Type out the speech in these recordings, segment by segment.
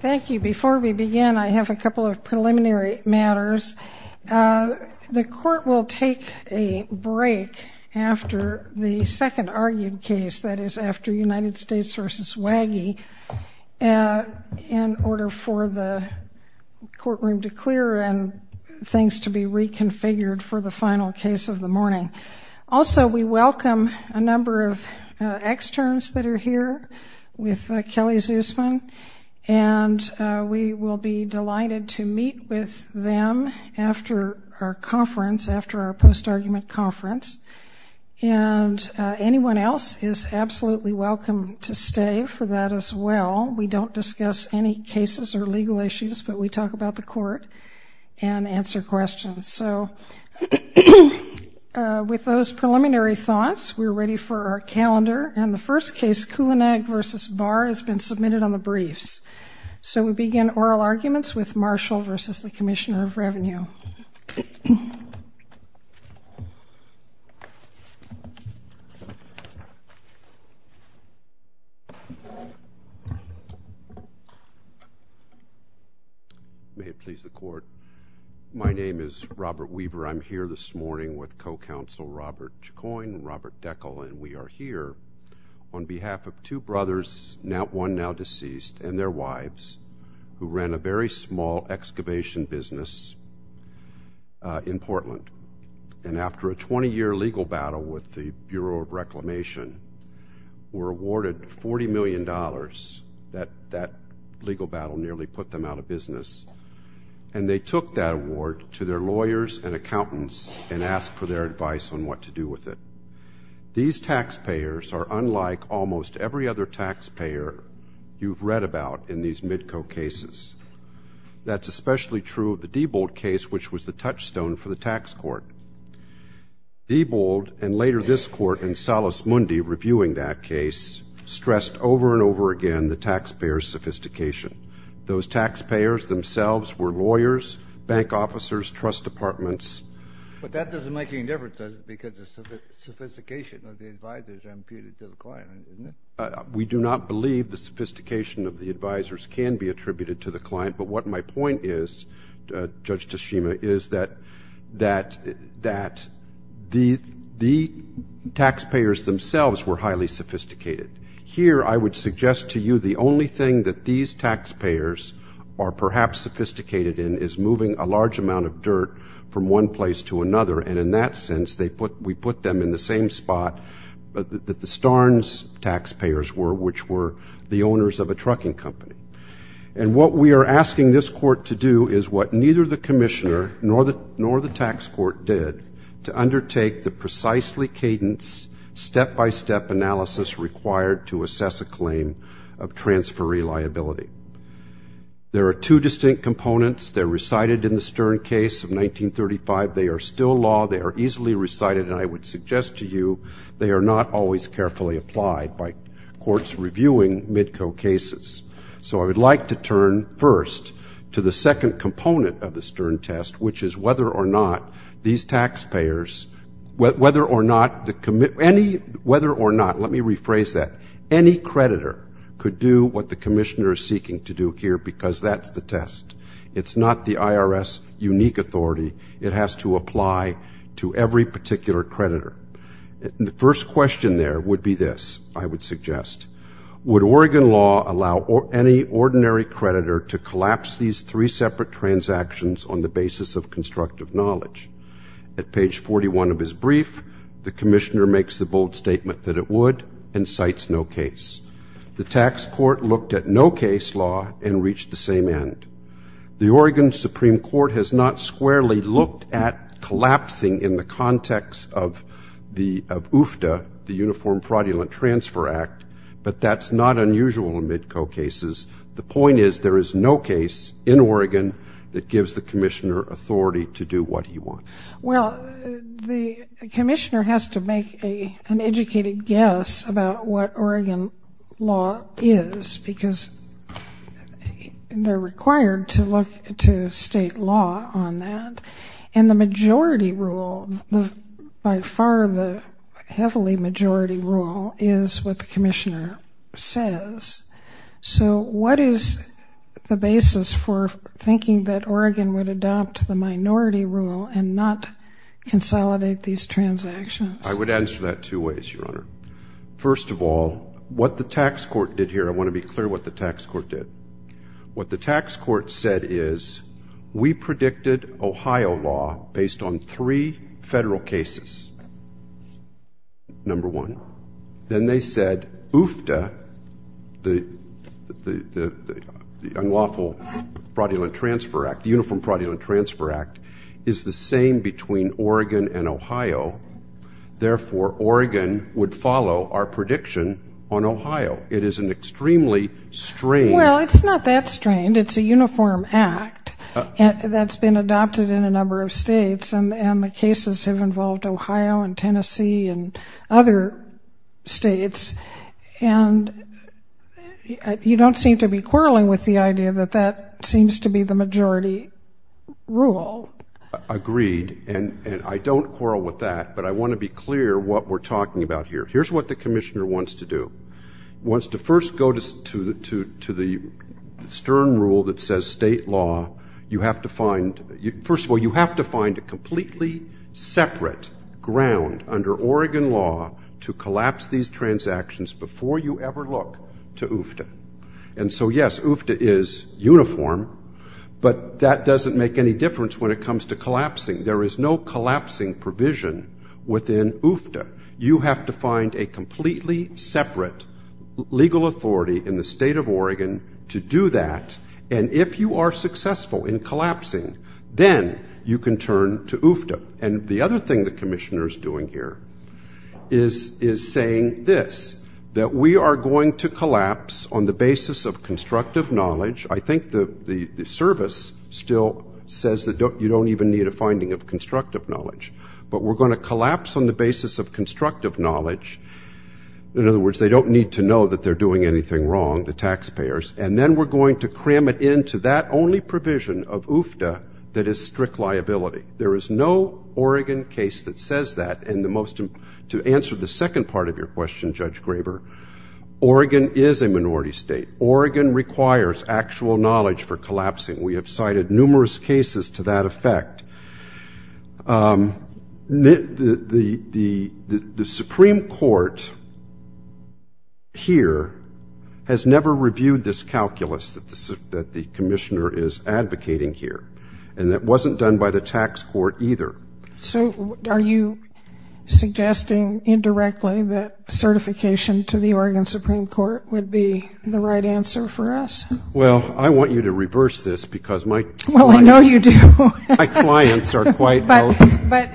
Thank you. Before we begin, I have a couple of preliminary matters. The Court will take a break after the second argued case, that is, after United States v. Wagee, in order for the courtroom to clear and things to be reconfigured for the final case of the morning. Also, we welcome a number of externs that are here with Kelly Zusman, and we will be delighted to meet with them after our post-argument conference. And anyone else is absolutely welcome to stay for that as well. We don't discuss any cases or legal issues, but we talk about the Court and answer questions. So with those preliminary thoughts, we are ready for our calendar, and the first case, Kulanak v. Barr, has been submitted on the briefs. So we begin oral arguments with Marshall v. Commissioner of Revenue. Robert Weber May it please the Court, my name is Robert Weber. I'm here this morning with co-counsel Robert Chacoin and Robert Deckel, and we are here on behalf of two brothers, one now deceased, and their wives, who ran a very small excavation business in Portland. And after a 20-year legal battle with the Bureau of Reclamation, were awarded $40 million. That legal battle nearly put them out of business. And they took that award to their lawyers and accountants and asked for their advice on what to do with it. These taxpayers are unlike almost every other taxpayer you've read about in these MIDCO cases. That's especially true of the Diebold case, which was the touchstone for the tax court. Diebold, and later this court in Salus Mundi reviewing that case, stressed over and over again the taxpayers' sophistication. Those taxpayers themselves were lawyers, bank officers, trust departments. But that doesn't make any difference, does it? Because the sophistication of the advisors are imputed to the client, isn't it? We do not believe the sophistication of the advisors can be attributed to the client. But what my point is, Judge Toshima, is that the taxpayers themselves were highly sophisticated. Here I would suggest to you the only thing that these taxpayers are perhaps sophisticated in is moving a large amount of dirt from one place to another. And in that sense, we put them in the same spot that the Starns taxpayers were, which were the owners of a trucking company. And what we are asking this court to do is what neither the commissioner nor the tax court did, to undertake the precisely cadence, step-by-step analysis required to assess a claim of transfer reliability. There are two distinct components. They're recited in the Stern case of 1935. They are still law. They are easily recited. And I would suggest to you they are not always carefully applied by courts reviewing MIDCO cases. So I would like to turn first to the second component of the Stern test, which is whether or not these taxpayers, whether or not the commissioner, whether or not, let me rephrase that, any creditor could do what the commissioner is seeking to do here because that's the test. It's not the IRS unique authority. It has to apply to every particular creditor. The first question there would be this, I would suggest. Would Oregon law allow any ordinary creditor to collapse these three separate transactions on the basis of constructive knowledge? At page 41 of his brief, the commissioner makes the bold statement that it would and cites no case. The tax court looked at no case law and reached the same end. The Oregon Supreme Court has not squarely looked at collapsing in the context of UFTA, the Uniform Fraudulent Transfer Act, but that's not unusual in MIDCO cases. The point is there is no case in Oregon that gives the commissioner authority to do what he wants. Well, the commissioner has to make an educated guess about what Oregon law is because they're required to look to state law on that. And the majority rule, by far the heavily majority rule, is what the commissioner says. So what is the basis for thinking that Oregon would adopt the minority rule and not consolidate these transactions? I would answer that two ways, Your Honor. First of all, what the tax court did here, I want to be clear what the tax court did. What the tax court said is we predicted Ohio law based on three federal cases, number one. Then they said UFTA, the Unlawful Fraudulent Transfer Act, the Uniform Fraudulent Transfer Act, is the same between Oregon and Ohio. Therefore, Oregon would follow our prediction on Ohio. It is an extremely strained. Well, it's not that strained. It's a uniform act that's been adopted in a number of states, and the cases have involved Ohio and Tennessee and other states. And you don't seem to be quarreling with the idea that that seems to be the majority rule. Agreed. And I don't quarrel with that, but I want to be clear what we're talking about here. Here's what the commissioner wants to do. He wants to first go to the stern rule that says state law. First of all, you have to find a completely separate ground under Oregon law to collapse these transactions before you ever look to UFTA. And so, yes, UFTA is uniform, but that doesn't make any difference when it comes to collapsing. There is no collapsing provision within UFTA. You have to find a completely separate legal authority in the state of Oregon to do that, and if you are successful in collapsing, then you can turn to UFTA. And the other thing the commissioner is doing here is saying this, that we are going to collapse on the basis of constructive knowledge. I think the service still says that you don't even need a finding of constructive knowledge, but we're going to collapse on the basis of constructive knowledge. In other words, they don't need to know that they're doing anything wrong, the taxpayers, and then we're going to cram it into that only provision of UFTA that is strict liability. There is no Oregon case that says that. And to answer the second part of your question, Judge Graber, Oregon is a minority state. Oregon requires actual knowledge for collapsing. We have cited numerous cases to that effect. The Supreme Court here has never reviewed this calculus that the commissioner is advocating here, and that wasn't done by the tax court either. So are you suggesting indirectly that certification to the Oregon Supreme Court would be the right answer for us? Well, I want you to reverse this because my clients... Well, I know you do. My clients are quite... But,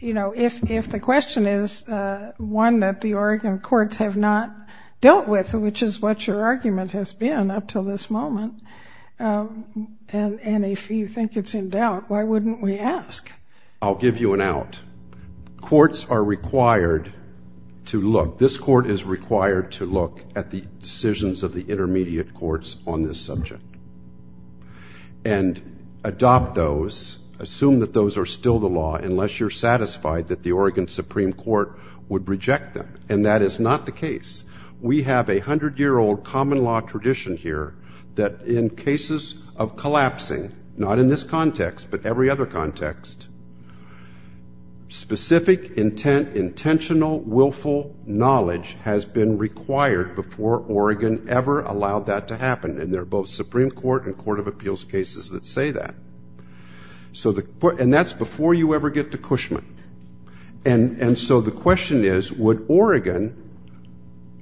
you know, if the question is one that the Oregon courts have not dealt with, which is what your argument has been up until this moment, and if you think it's in doubt, why wouldn't we ask? I'll give you an out. Courts are required to look. This court is required to look at the decisions of the intermediate courts on this subject. And adopt those, assume that those are still the law, unless you're satisfied that the Oregon Supreme Court would reject them. And that is not the case. We have a hundred-year-old common law tradition here that in cases of collapsing, not in this context, but every other context, specific intent, intentional, willful knowledge has been required before Oregon ever allowed that to happen. And there are both Supreme Court and Court of Appeals cases that say that. And that's before you ever get to Cushman. And so the question is, would Oregon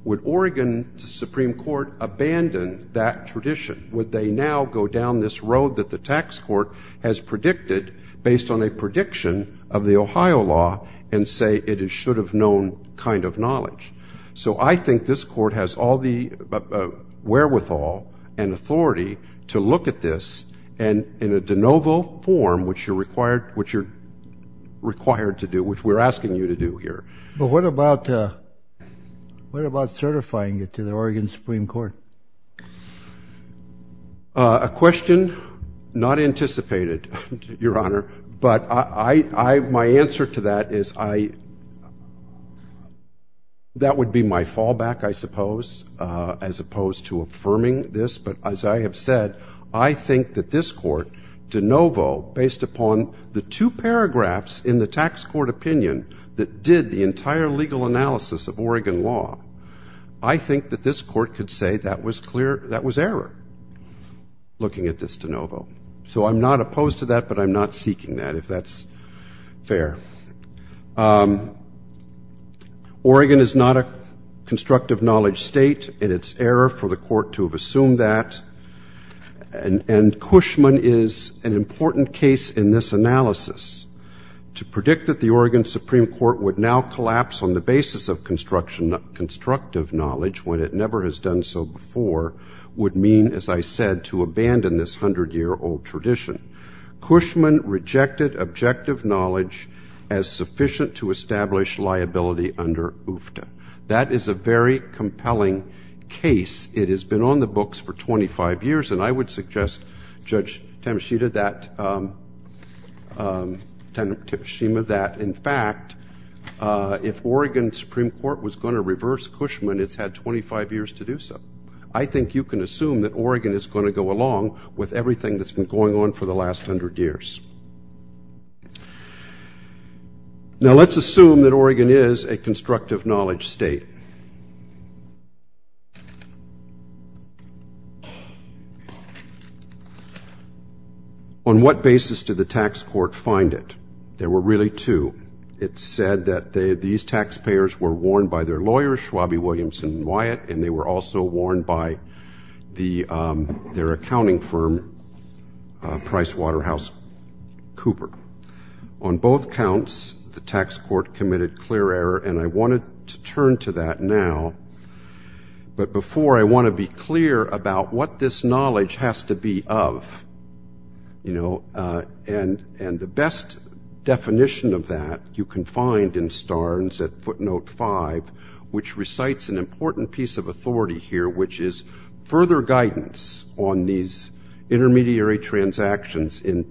to Supreme Court abandon that tradition? Would they now go down this road that the tax court has predicted based on a prediction of the Ohio law and say it is should-have-known kind of knowledge? So I think this court has all the wherewithal and authority to look at this in a de novo form, which you're required to do, which we're asking you to do here. But what about certifying it to the Oregon Supreme Court? A question not anticipated, Your Honor. But my answer to that is that would be my fallback, I suppose, as opposed to affirming this. But as I have said, I think that this court, de novo, based upon the two paragraphs in the tax court opinion that did the entire legal analysis of Oregon law, I think that this court could say that was error, looking at this de novo. So I'm not opposed to that, but I'm not seeking that, if that's fair. Oregon is not a constructive knowledge state, and it's error for the court to have assumed that. And Cushman is an important case in this analysis. To predict that the Oregon Supreme Court would now collapse on the basis of constructive knowledge, when it never has done so before, would mean, as I said, to abandon this 100-year-old tradition. Cushman rejected objective knowledge as sufficient to establish liability under UFTA. That is a very compelling case. It has been on the books for 25 years, and I would suggest, Judge Temeshima, that, in fact, if Oregon Supreme Court was going to reverse Cushman, it's had 25 years to do so. I think you can assume that Oregon is going to go along with everything that's been going on for the last 100 years. Now, let's assume that Oregon is a constructive knowledge state. On what basis did the tax court find it? There were really two. It said that these taxpayers were warned by their lawyers, Schwabby, Williamson, and Wyatt, and they were also warned by their accounting firm, PricewaterhouseCooper. On both counts, the tax court committed clear error, and I wanted to turn to that now. But before, I want to be clear about what this knowledge has to be of. And the best definition of that you can find in Starnes at footnote 5, which recites an important piece of authority here, which is further guidance on these intermediary transactions in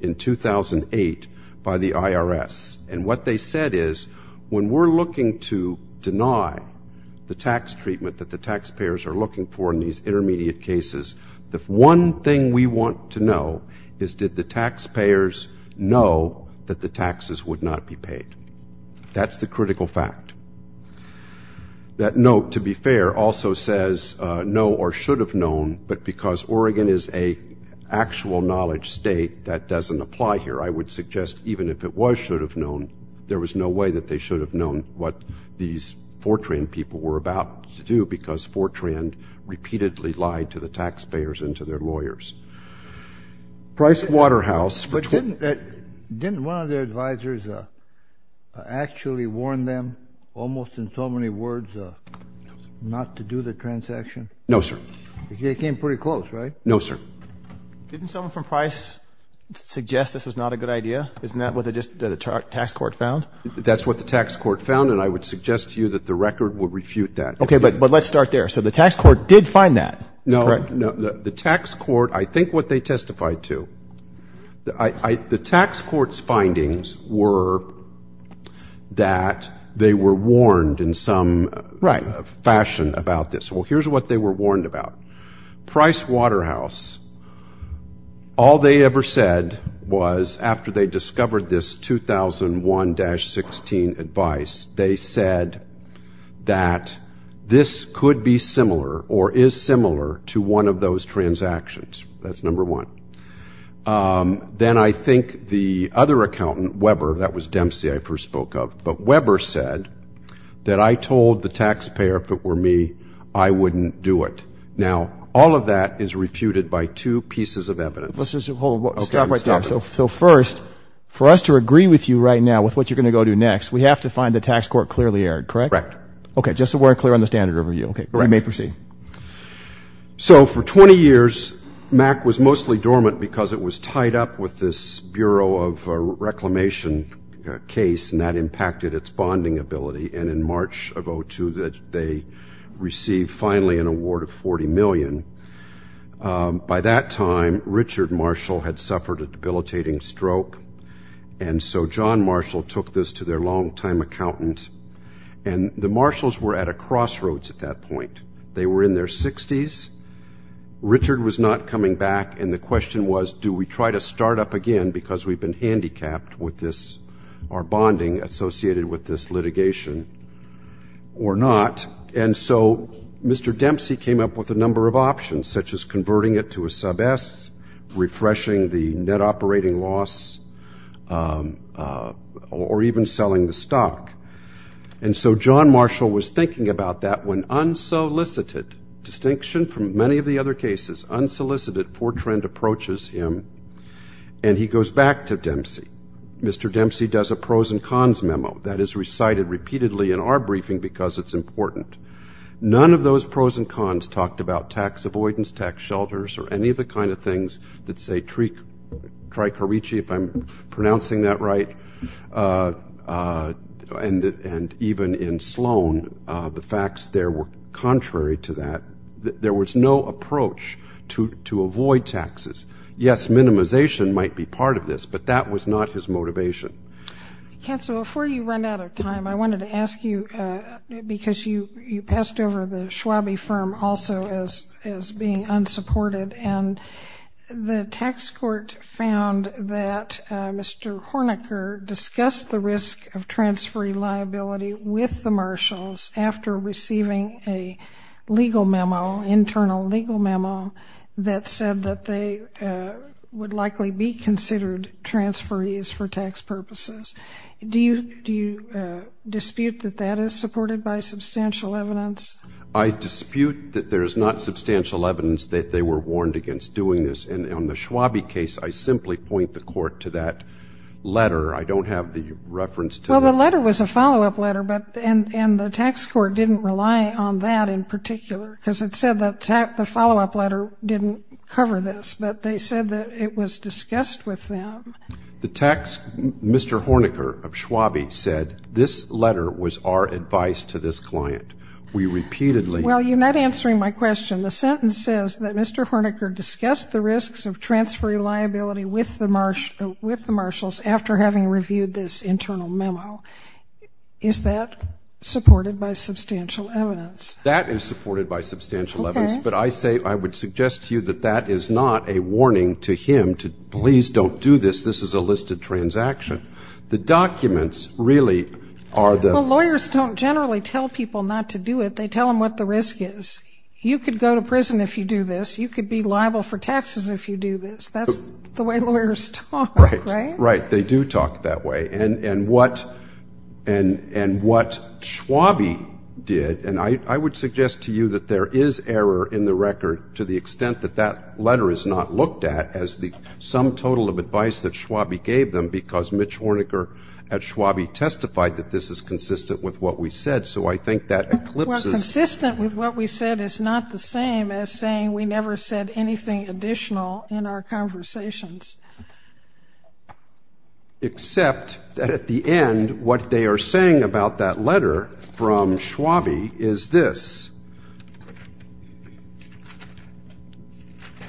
2008 by the IRS. And what they said is, when we're looking to deny the tax treatment that the taxpayers are looking for in these intermediate cases, the one thing we want to know is, did the taxpayers know that the taxes would not be paid? That's the critical fact. That note, to be fair, also says, know or should have known, but because Oregon is an actual knowledge state, that doesn't apply here. I would suggest even if it was should have known, there was no way that they should have known what these Fortran people were about to do because Fortran repeatedly lied to the taxpayers and to their lawyers. Price Waterhouse. Didn't one of their advisors actually warn them, almost in so many words, not to do the transaction? No, sir. They came pretty close, right? No, sir. Didn't someone from Price suggest this was not a good idea? Isn't that what the tax court found? That's what the tax court found, and I would suggest to you that the record would refute that. Okay, but let's start there. So the tax court did find that, correct? No, no. The tax court, I think what they testified to, the tax court's findings were that they were warned in some fashion about this. Well, here's what they were warned about. Price Waterhouse, all they ever said was after they discovered this 2001-16 advice, they said that this could be similar or is similar to one of those transactions. That's number one. Then I think the other accountant, Weber, that was Dempsey I first spoke of, but Weber said that I told the taxpayer if it were me, I wouldn't do it. Now, all of that is refuted by two pieces of evidence. Hold on. Stop right there. So first, for us to agree with you right now with what you're going to go do next, we have to find the tax court clearly erred, correct? Correct. Okay, just so we're clear on the standard overview. Okay, we may proceed. So for 20 years, MAC was mostly dormant because it was tied up with this Bureau of Reclamation case and that impacted its bonding ability, and in March of 2002, they received finally an award of $40 million. By that time, Richard Marshall had suffered a debilitating stroke, and so John Marshall took this to their longtime accountant, and the Marshalls were at a crossroads at that point. They were in their 60s. Richard was not coming back, and the question was, do we try to start up again because we've been handicapped with our bonding associated with this litigation or not? And so Mr. Dempsey came up with a number of options, such as converting it to a sub-S, refreshing the net operating loss, or even selling the stock. And so John Marshall was thinking about that when unsolicited, distinction from many of the other cases, unsolicited Fortran approaches him and he goes back to Dempsey. Mr. Dempsey does a pros and cons memo that is recited repeatedly in our briefing because it's important. None of those pros and cons talked about tax avoidance, tax shelters, or any of the kind of things that say Tricarici, if I'm pronouncing that right, and even in Sloan, the facts there were contrary to that. There was no approach to avoid taxes. Yes, minimization might be part of this, but that was not his motivation. Counsel, before you run out of time, I wanted to ask you, because you passed over the Schwabe firm also as being unsupported, and the tax court found that Mr. Hornecker discussed the risk of transferee liability with the Marshalls after receiving a legal memo, internal legal memo, that said that they would likely be considered transferees for tax purposes. Do you dispute that that is supported by substantial evidence? I dispute that there is not substantial evidence that they were warned against doing this, and on the Schwabe case, I simply point the court to that letter. I don't have the reference to that. Well, the letter was a follow-up letter, and the tax court didn't rely on that in particular because it said that the follow-up letter didn't cover this, but they said that it was discussed with them. The text, Mr. Hornecker of Schwabe said, this letter was our advice to this client. We repeatedly ---- Well, you're not answering my question. The sentence says that Mr. Hornecker discussed the risks of transferee liability with the Marshalls after having reviewed this internal memo. Is that supported by substantial evidence? That is supported by substantial evidence, but I say I would suggest to you that that is not a warning to him to please don't do this. This is a listed transaction. The documents really are the ---- Well, lawyers don't generally tell people not to do it. They tell them what the risk is. You could go to prison if you do this. You could be liable for taxes if you do this. That's the way lawyers talk, right? Right. They do talk that way. And what Schwabe did, and I would suggest to you that there is error in the record to the extent that that letter is not looked at as the sum total of advice that Schwabe gave them because Mitch Hornecker at Schwabe testified that this is consistent with what we said, so I think that eclipses ---- Well, consistent with what we said is not the same as saying we never said anything additional in our conversations. Except that at the end, what they are saying about that letter from Schwabe is this.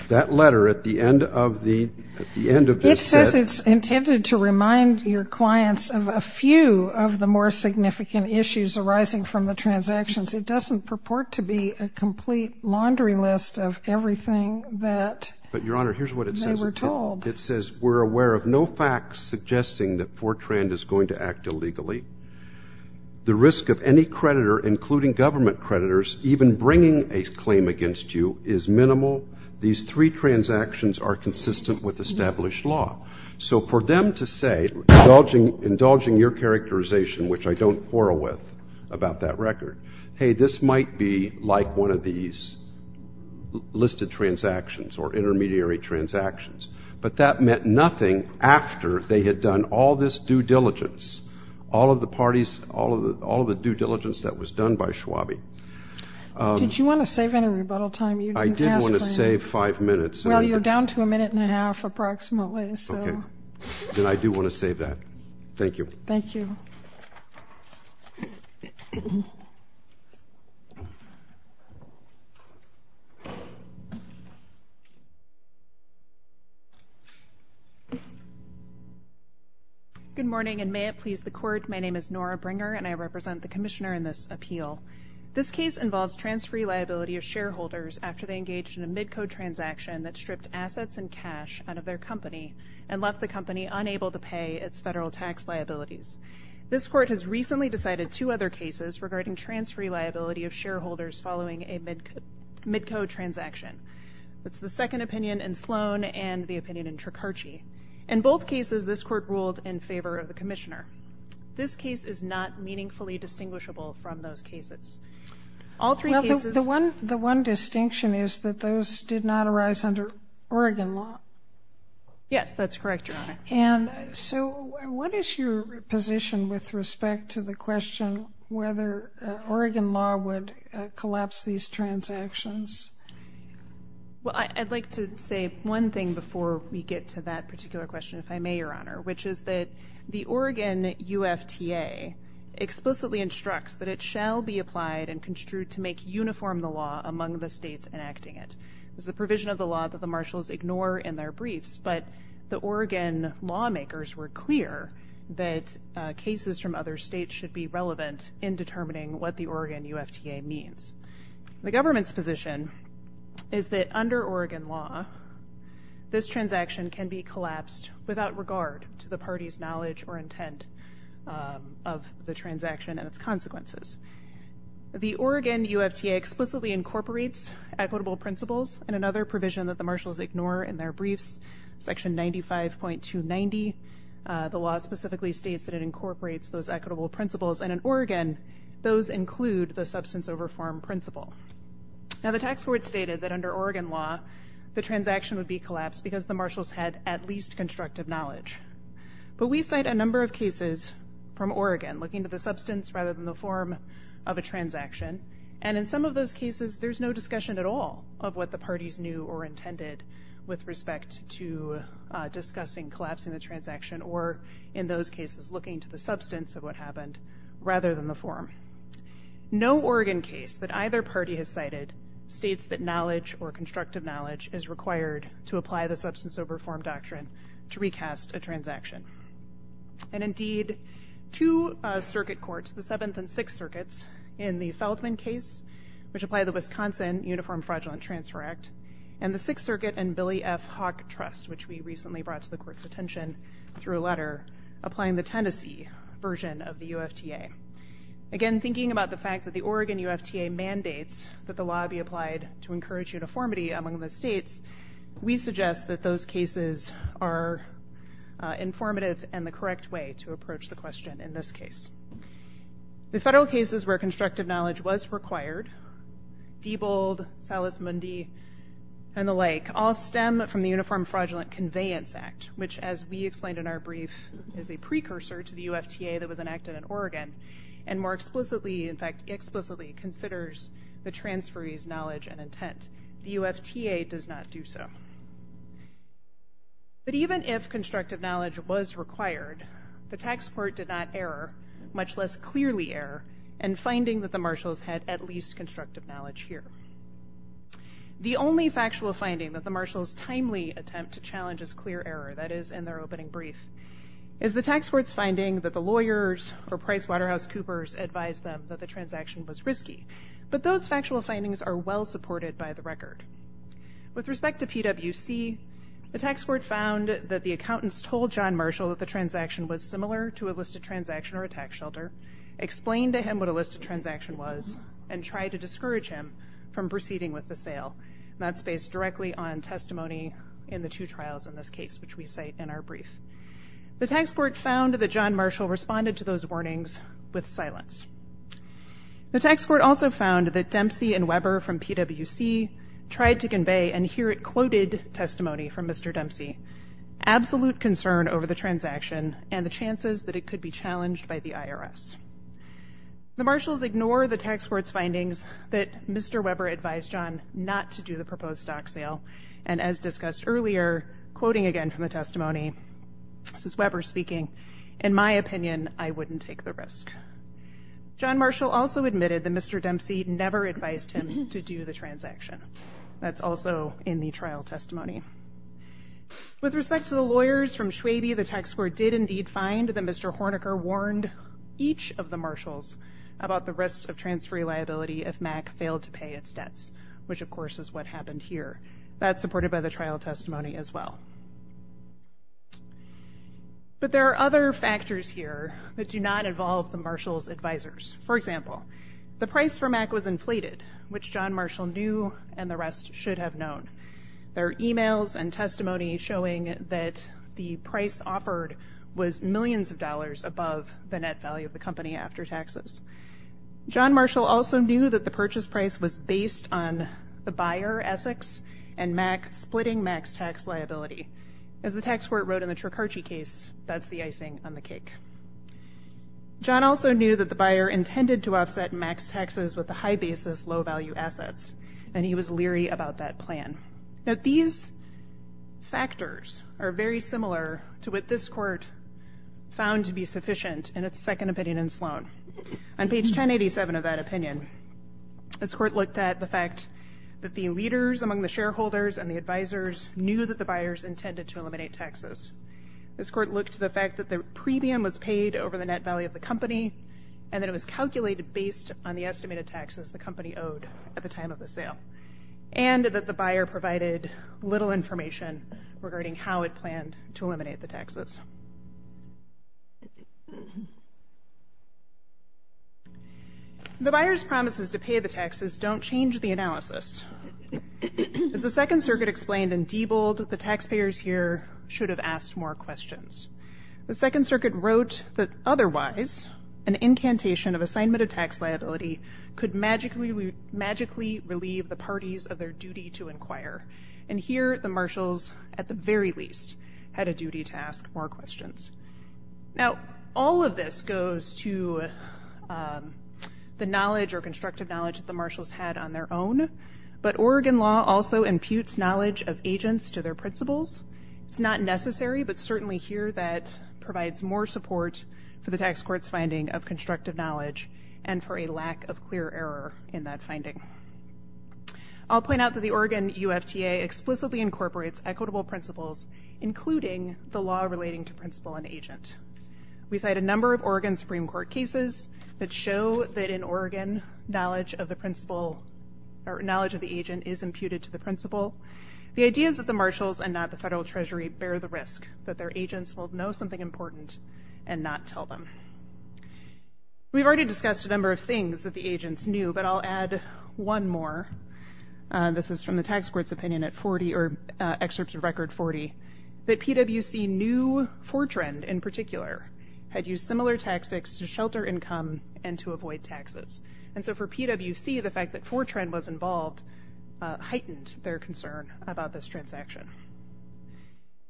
That letter at the end of the set ---- It says it's intended to remind your clients of a few of the more significant issues arising from the transactions. It doesn't purport to be a complete laundry list of everything that they were told. But, Your Honor, here's what it says. We're told. It says we're aware of no facts suggesting that Fortran is going to act illegally. The risk of any creditor, including government creditors, even bringing a claim against you is minimal. These three transactions are consistent with established law. So for them to say, indulging your characterization, which I don't quarrel with about that record, hey, this might be like one of these listed transactions or intermediary transactions. But that meant nothing after they had done all this due diligence, all of the parties, all of the due diligence that was done by Schwabe. Did you want to save any rebuttal time? I did want to save five minutes. Well, you're down to a minute and a half approximately. Then I do want to save that. Thank you. Thank you. Thank you. Good morning, and may it please the Court, my name is Nora Bringer, and I represent the commissioner in this appeal. This case involves transferee liability of shareholders after they engaged in a mid-code transaction that stripped assets and cash out of their company and left the company unable to pay its federal tax liabilities. This Court has recently decided two other cases regarding transferee liability of shareholders following a mid-code transaction. That's the second opinion in Sloan and the opinion in Tricarci. In both cases, this Court ruled in favor of the commissioner. This case is not meaningfully distinguishable from those cases. The one distinction is that those did not arise under Oregon law. Yes, that's correct, Your Honor. And so what is your position with respect to the question whether Oregon law would collapse these transactions? Well, I'd like to say one thing before we get to that particular question, if I may, Your Honor, which is that the Oregon UFTA explicitly instructs that it shall be applied and construed to make uniform the law among the states enacting it. It's the provision of the law that the marshals ignore in their briefs, but the Oregon lawmakers were clear that cases from other states should be relevant in determining what the Oregon UFTA means. The government's position is that under Oregon law, this transaction can be collapsed without regard to the party's knowledge or intent of the transaction and its consequences. The Oregon UFTA explicitly incorporates equitable principles and another provision that the marshals ignore in their briefs, Section 95.290. The law specifically states that it incorporates those equitable principles, and in Oregon, those include the substance over form principle. Now, the tax court stated that under Oregon law, the transaction would be collapsed because the marshals had at least constructive knowledge. But we cite a number of cases from Oregon looking to the substance rather than the form of a transaction, and in some of those cases, there's no discussion at all of what the parties knew or intended with respect to discussing collapsing the transaction or, in those cases, looking to the substance of what happened rather than the form. No Oregon case that either party has cited states that knowledge or constructive knowledge is required to apply the substance over form doctrine to recast a transaction. And indeed, two circuit courts, the Seventh and Sixth Circuits, in the Feldman case, which apply the Wisconsin Uniform Fraudulent Transfer Act, and the Sixth Circuit and Billy F. Hawk Trust, which we recently brought to the court's attention through a letter, applying the Tennessee version of the UFTA. Again, thinking about the fact that the Oregon UFTA mandates that the law be applied to encourage uniformity among the states, we suggest that those cases are informative and the correct way to approach the question in this case. The federal cases where constructive knowledge was required, Diebold, Salas-Mundy, and the like, all stem from the Uniform Fraudulent Conveyance Act, which, as we explained in our brief, is a precursor to the UFTA that was enacted in Oregon and more explicitly, in fact explicitly, considers the transferee's knowledge and intent. The UFTA does not do so. But even if constructive knowledge was required, the tax court did not err, much less clearly err, in finding that the marshals had at least constructive knowledge here. The only factual finding that the marshals timely attempt to challenge as clear error, that is in their opening brief, is the tax court's finding that the lawyers or Price Waterhouse Coopers advised them that the transaction was risky. But those factual findings are well supported by the record. With respect to PWC, the tax court found that the accountants told John Marshall that the transaction was similar to a listed transaction or a tax shelter, explained to him what a listed transaction was, and tried to discourage him from proceeding with the sale. That's based directly on testimony in the two trials in this case, which we cite in our brief. The tax court found that John Marshall responded to those warnings with silence. The tax court also found that Dempsey and Weber from PWC tried to convey and here it quoted testimony from Mr. Dempsey, absolute concern over the transaction and the chances that it could be challenged by the IRS. The marshals ignore the tax court's findings that Mr. Weber advised John not to do the proposed stock sale, and as discussed earlier, quoting again from the testimony, this is Weber speaking, in my opinion, I wouldn't take the risk. John Marshall also admitted that Mr. Dempsey never advised him to do the transaction. That's also in the trial testimony. With respect to the lawyers from Schwabe, the tax court did indeed find that Mr. Horniker warned each of the marshals about the risks of transfer liability if MAC failed to pay its debts, which of course is what happened here. That's supported by the trial testimony as well. But there are other factors here that do not involve the marshals' advisors. For example, the price for MAC was inflated, which John Marshall knew and the rest should have known. There are e-mails and testimony showing that the price offered was millions of dollars above the net value of the company after taxes. John Marshall also knew that the purchase price was based on the buyer, Essex, and splitting MAC's tax liability. As the tax court wrote in the Tricarci case, that's the icing on the cake. John also knew that the buyer intended to offset MAC's taxes with the high-basis, low-value assets, and he was leery about that plan. Now these factors are very similar to what this court found to be sufficient in its second opinion in Sloan. On page 1087 of that opinion, this court looked at the fact that the leaders among the shareholders and the advisors knew that the buyers intended to eliminate taxes. This court looked to the fact that the premium was paid over the net value of the company, and that it was calculated based on the estimated taxes the company owed at the time of the sale, and that the buyer provided little information regarding how it planned to eliminate the taxes. The buyer's promises to pay the taxes don't change the analysis. As the Second Circuit explained in Diebold, the taxpayers here should have asked more questions. The Second Circuit wrote that otherwise, an incantation of assignment of tax liability could magically relieve the parties of their duty to inquire. And here the marshals, at the very least, had a duty to ask more questions. Now all of this goes to the knowledge or constructive knowledge that the marshals had on their own, but Oregon law also imputes knowledge of agents to their principles. It's not necessary, but certainly here that provides more support for the tax court's finding of constructive knowledge and for a lack of clear error in that finding. I'll point out that the Oregon UFTA explicitly incorporates equitable principles, including the law relating to principle and agent. We cite a number of Oregon Supreme Court cases that show that in Oregon, knowledge of the agent is imputed to the principle. The idea is that the marshals and not the federal treasury bear the risk that their agents will know something important and not tell them. We've already discussed a number of things that the agents knew, but I'll add one more. This is from the tax court's opinion at 40, or excerpts of Record 40, that PwC knew Fortran in particular had used similar tactics to shelter income and to avoid taxes. And so for PwC, the fact that Fortran was involved heightened their concern about this transaction.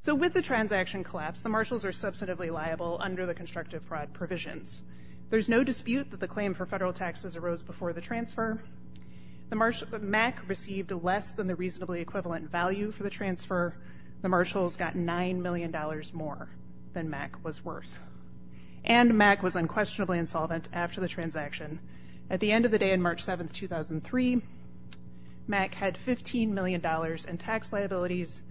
So with the transaction collapse, the marshals are substantively liable under the constructive fraud provisions. There's no dispute that the claim for federal taxes arose before the transfer. MAC received less than the reasonably equivalent value for the transfer. The marshals got $9 million more than MAC was worth. And MAC was unquestionably insolvent after the transaction. At the end of the day on March 7, 2003, MAC had $15 million in tax liabilities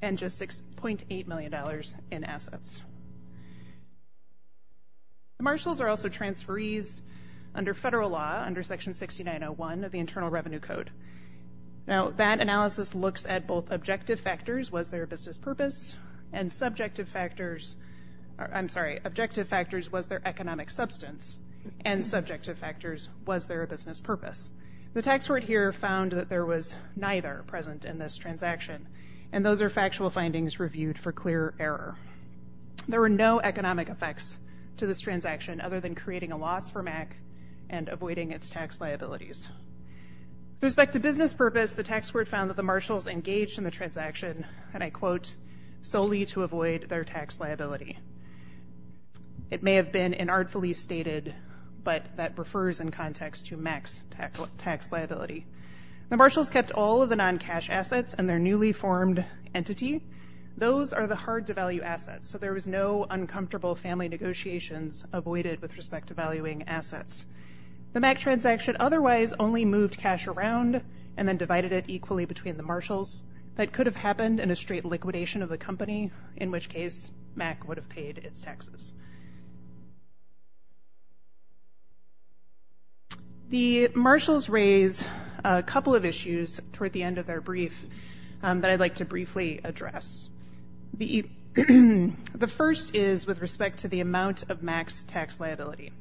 and just $6.8 million in assets. The marshals are also transferees under federal law, under Section 6901 of the Internal Revenue Code. Now that analysis looks at both objective factors, was there a business purpose, and subjective factors, I'm sorry, objective factors, was there economic substance, and subjective factors, was there a business purpose? The tax court here found that there was neither present in this transaction, and those are factual findings reviewed for clear error. There were no economic effects to this transaction other than creating a loss for MAC and avoiding its tax liabilities. With respect to business purpose, the tax court found that the marshals engaged in the transaction, and I quote, solely to avoid their tax liability. It may have been inartfully stated, but that refers in context to MAC's tax liability. The marshals kept all of the non-cash assets and their newly formed entity. Those are the hard-to-value assets, so there was no uncomfortable family negotiations avoided with respect to valuing assets. The MAC transaction otherwise only moved cash around and then divided it equally between the marshals. That could have happened in a straight liquidation of the company, in which case MAC would have paid its taxes. The marshals raise a couple of issues toward the end of their brief that I'd like to briefly address. The first is with respect to the amount of MAC's tax liability.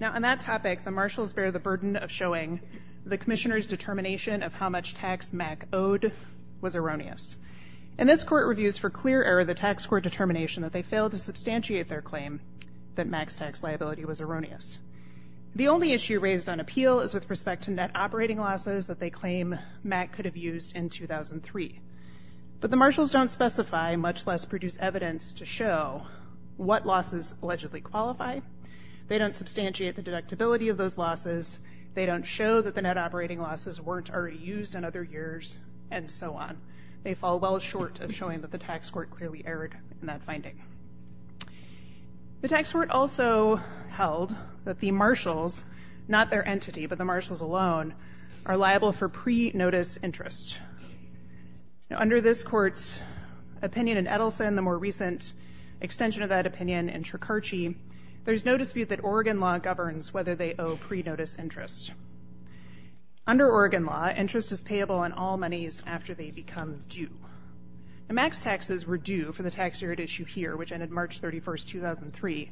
Now, on that topic, the marshals bear the burden of showing the commissioner's determination of how much tax MAC owed was erroneous. And this court reviews for clear error the tax court determination that they failed to substantiate their claim that MAC's tax liability was erroneous. The only issue raised on appeal is with respect to net operating losses that they claim MAC could have used in 2003. But the marshals don't specify, much less produce evidence to show, what losses allegedly qualify. They don't substantiate the deductibility of those losses. They don't show that the net operating losses weren't already used in other years, and so on. They fall well short of showing that the tax court clearly erred in that finding. The tax court also held that the marshals, not their entity, but the marshals alone, are liable for pre-notice interest. Now, under this court's opinion in Edelson, the more recent extension of that opinion in Tricarci, there's no dispute that Oregon law governs whether they owe pre-notice interest. Under Oregon law, interest is payable on all monies after they become due. The MAC's taxes were due for the tax year at issue here, which ended March 31, 2003,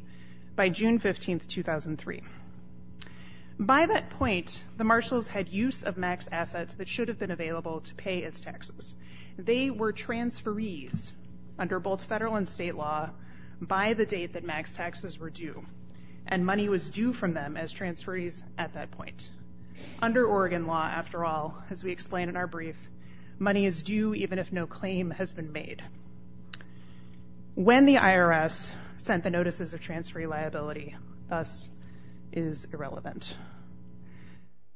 by June 15, 2003. By that point, the marshals had use of MAC's assets that should have been available to pay its taxes. They were transferees under both federal and state law by the date that MAC's taxes were due, and money was due from them as transferees at that point. Under Oregon law, after all, as we explain in our brief, money is due even if no claim has been made. When the IRS sent the notices of transferee liability, thus, is irrelevant.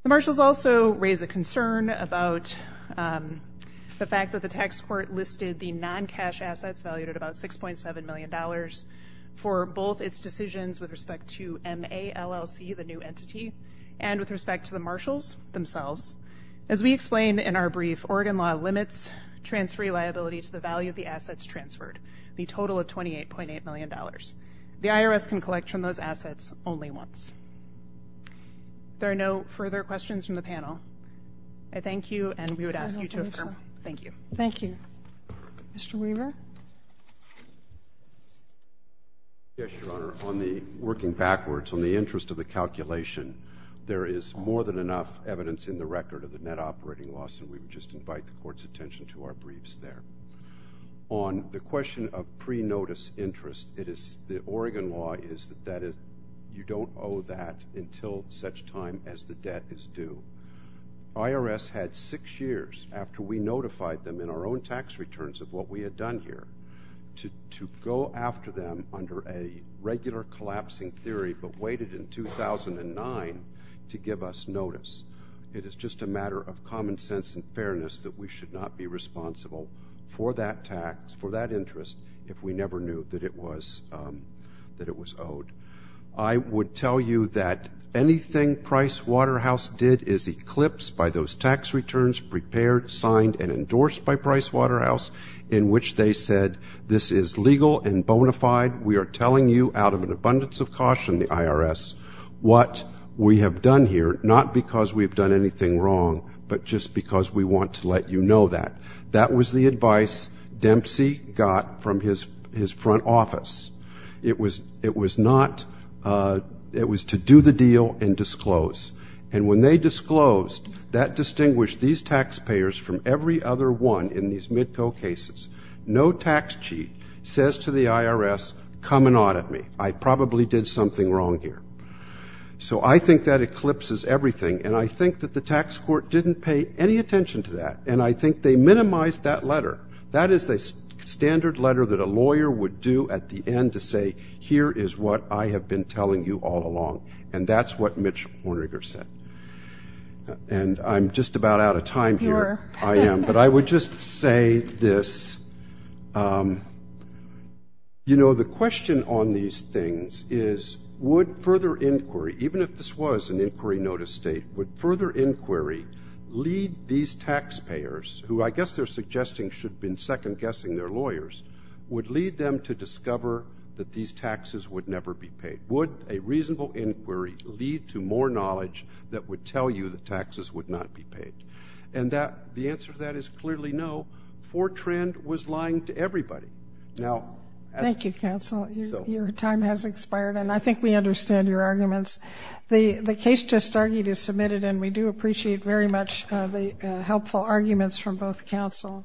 The marshals also raise a concern about the fact that the tax court listed the non-cash assets valued at about $6.7 million for both its decisions with respect to MALLC, the new entity, and with respect to the marshals themselves. As we explain in our brief, Oregon law limits transferee liability to the value of the assets transferred, the total of $28.8 million. The IRS can collect from those assets only once. There are no further questions from the panel. I thank you, and we would ask you to affirm. Thank you. Thank you. Mr. Weaver? Yes, Your Honor. Working backwards, on the interest of the calculation, there is more than enough evidence in the record of the net operating loss, and we would just invite the Court's attention to our briefs there. On the question of pre-notice interest, the Oregon law is that you don't owe that until such time as the debt is due. IRS had six years after we notified them in our own tax returns of what we had done here to go after them under a regular collapsing theory but waited in 2009 to give us notice. It is just a matter of common sense and fairness that we should not be responsible for that tax, for that interest, if we never knew that it was owed. I would tell you that anything Price Waterhouse did is eclipsed by those tax returns prepared, signed, and endorsed by Price Waterhouse in which they said, this is legal and bona fide. We are telling you out of an abundance of caution, the IRS, what we have done here, not because we have done anything wrong, but just because we want to let you know that. That was the advice Dempsey got from his front office. It was not to do the deal and disclose. And when they disclosed, that distinguished these taxpayers from every other one in these MIDCO cases. No tax cheat says to the IRS, come and audit me. I probably did something wrong here. So I think that eclipses everything, and I think that the tax court didn't pay any attention to that, and I think they minimized that letter. That is a standard letter that a lawyer would do at the end to say, here is what I have been telling you all along. And that's what Mitch Horniger said. And I'm just about out of time here. I am. But I would just say this. You know, the question on these things is, would further inquiry, even if this was an inquiry notice date, would further inquiry lead these taxpayers, who I guess they're suggesting should have been second-guessing their lawyers, would lead them to discover that these taxes would never be paid? Would a reasonable inquiry lead to more knowledge that would tell you that taxes would not be paid? And the answer to that is clearly no. Fortran was lying to everybody. Thank you, counsel. Your time has expired, and I think we understand your arguments. The case just argued is submitted, and we do appreciate very much the helpful arguments from both counsel.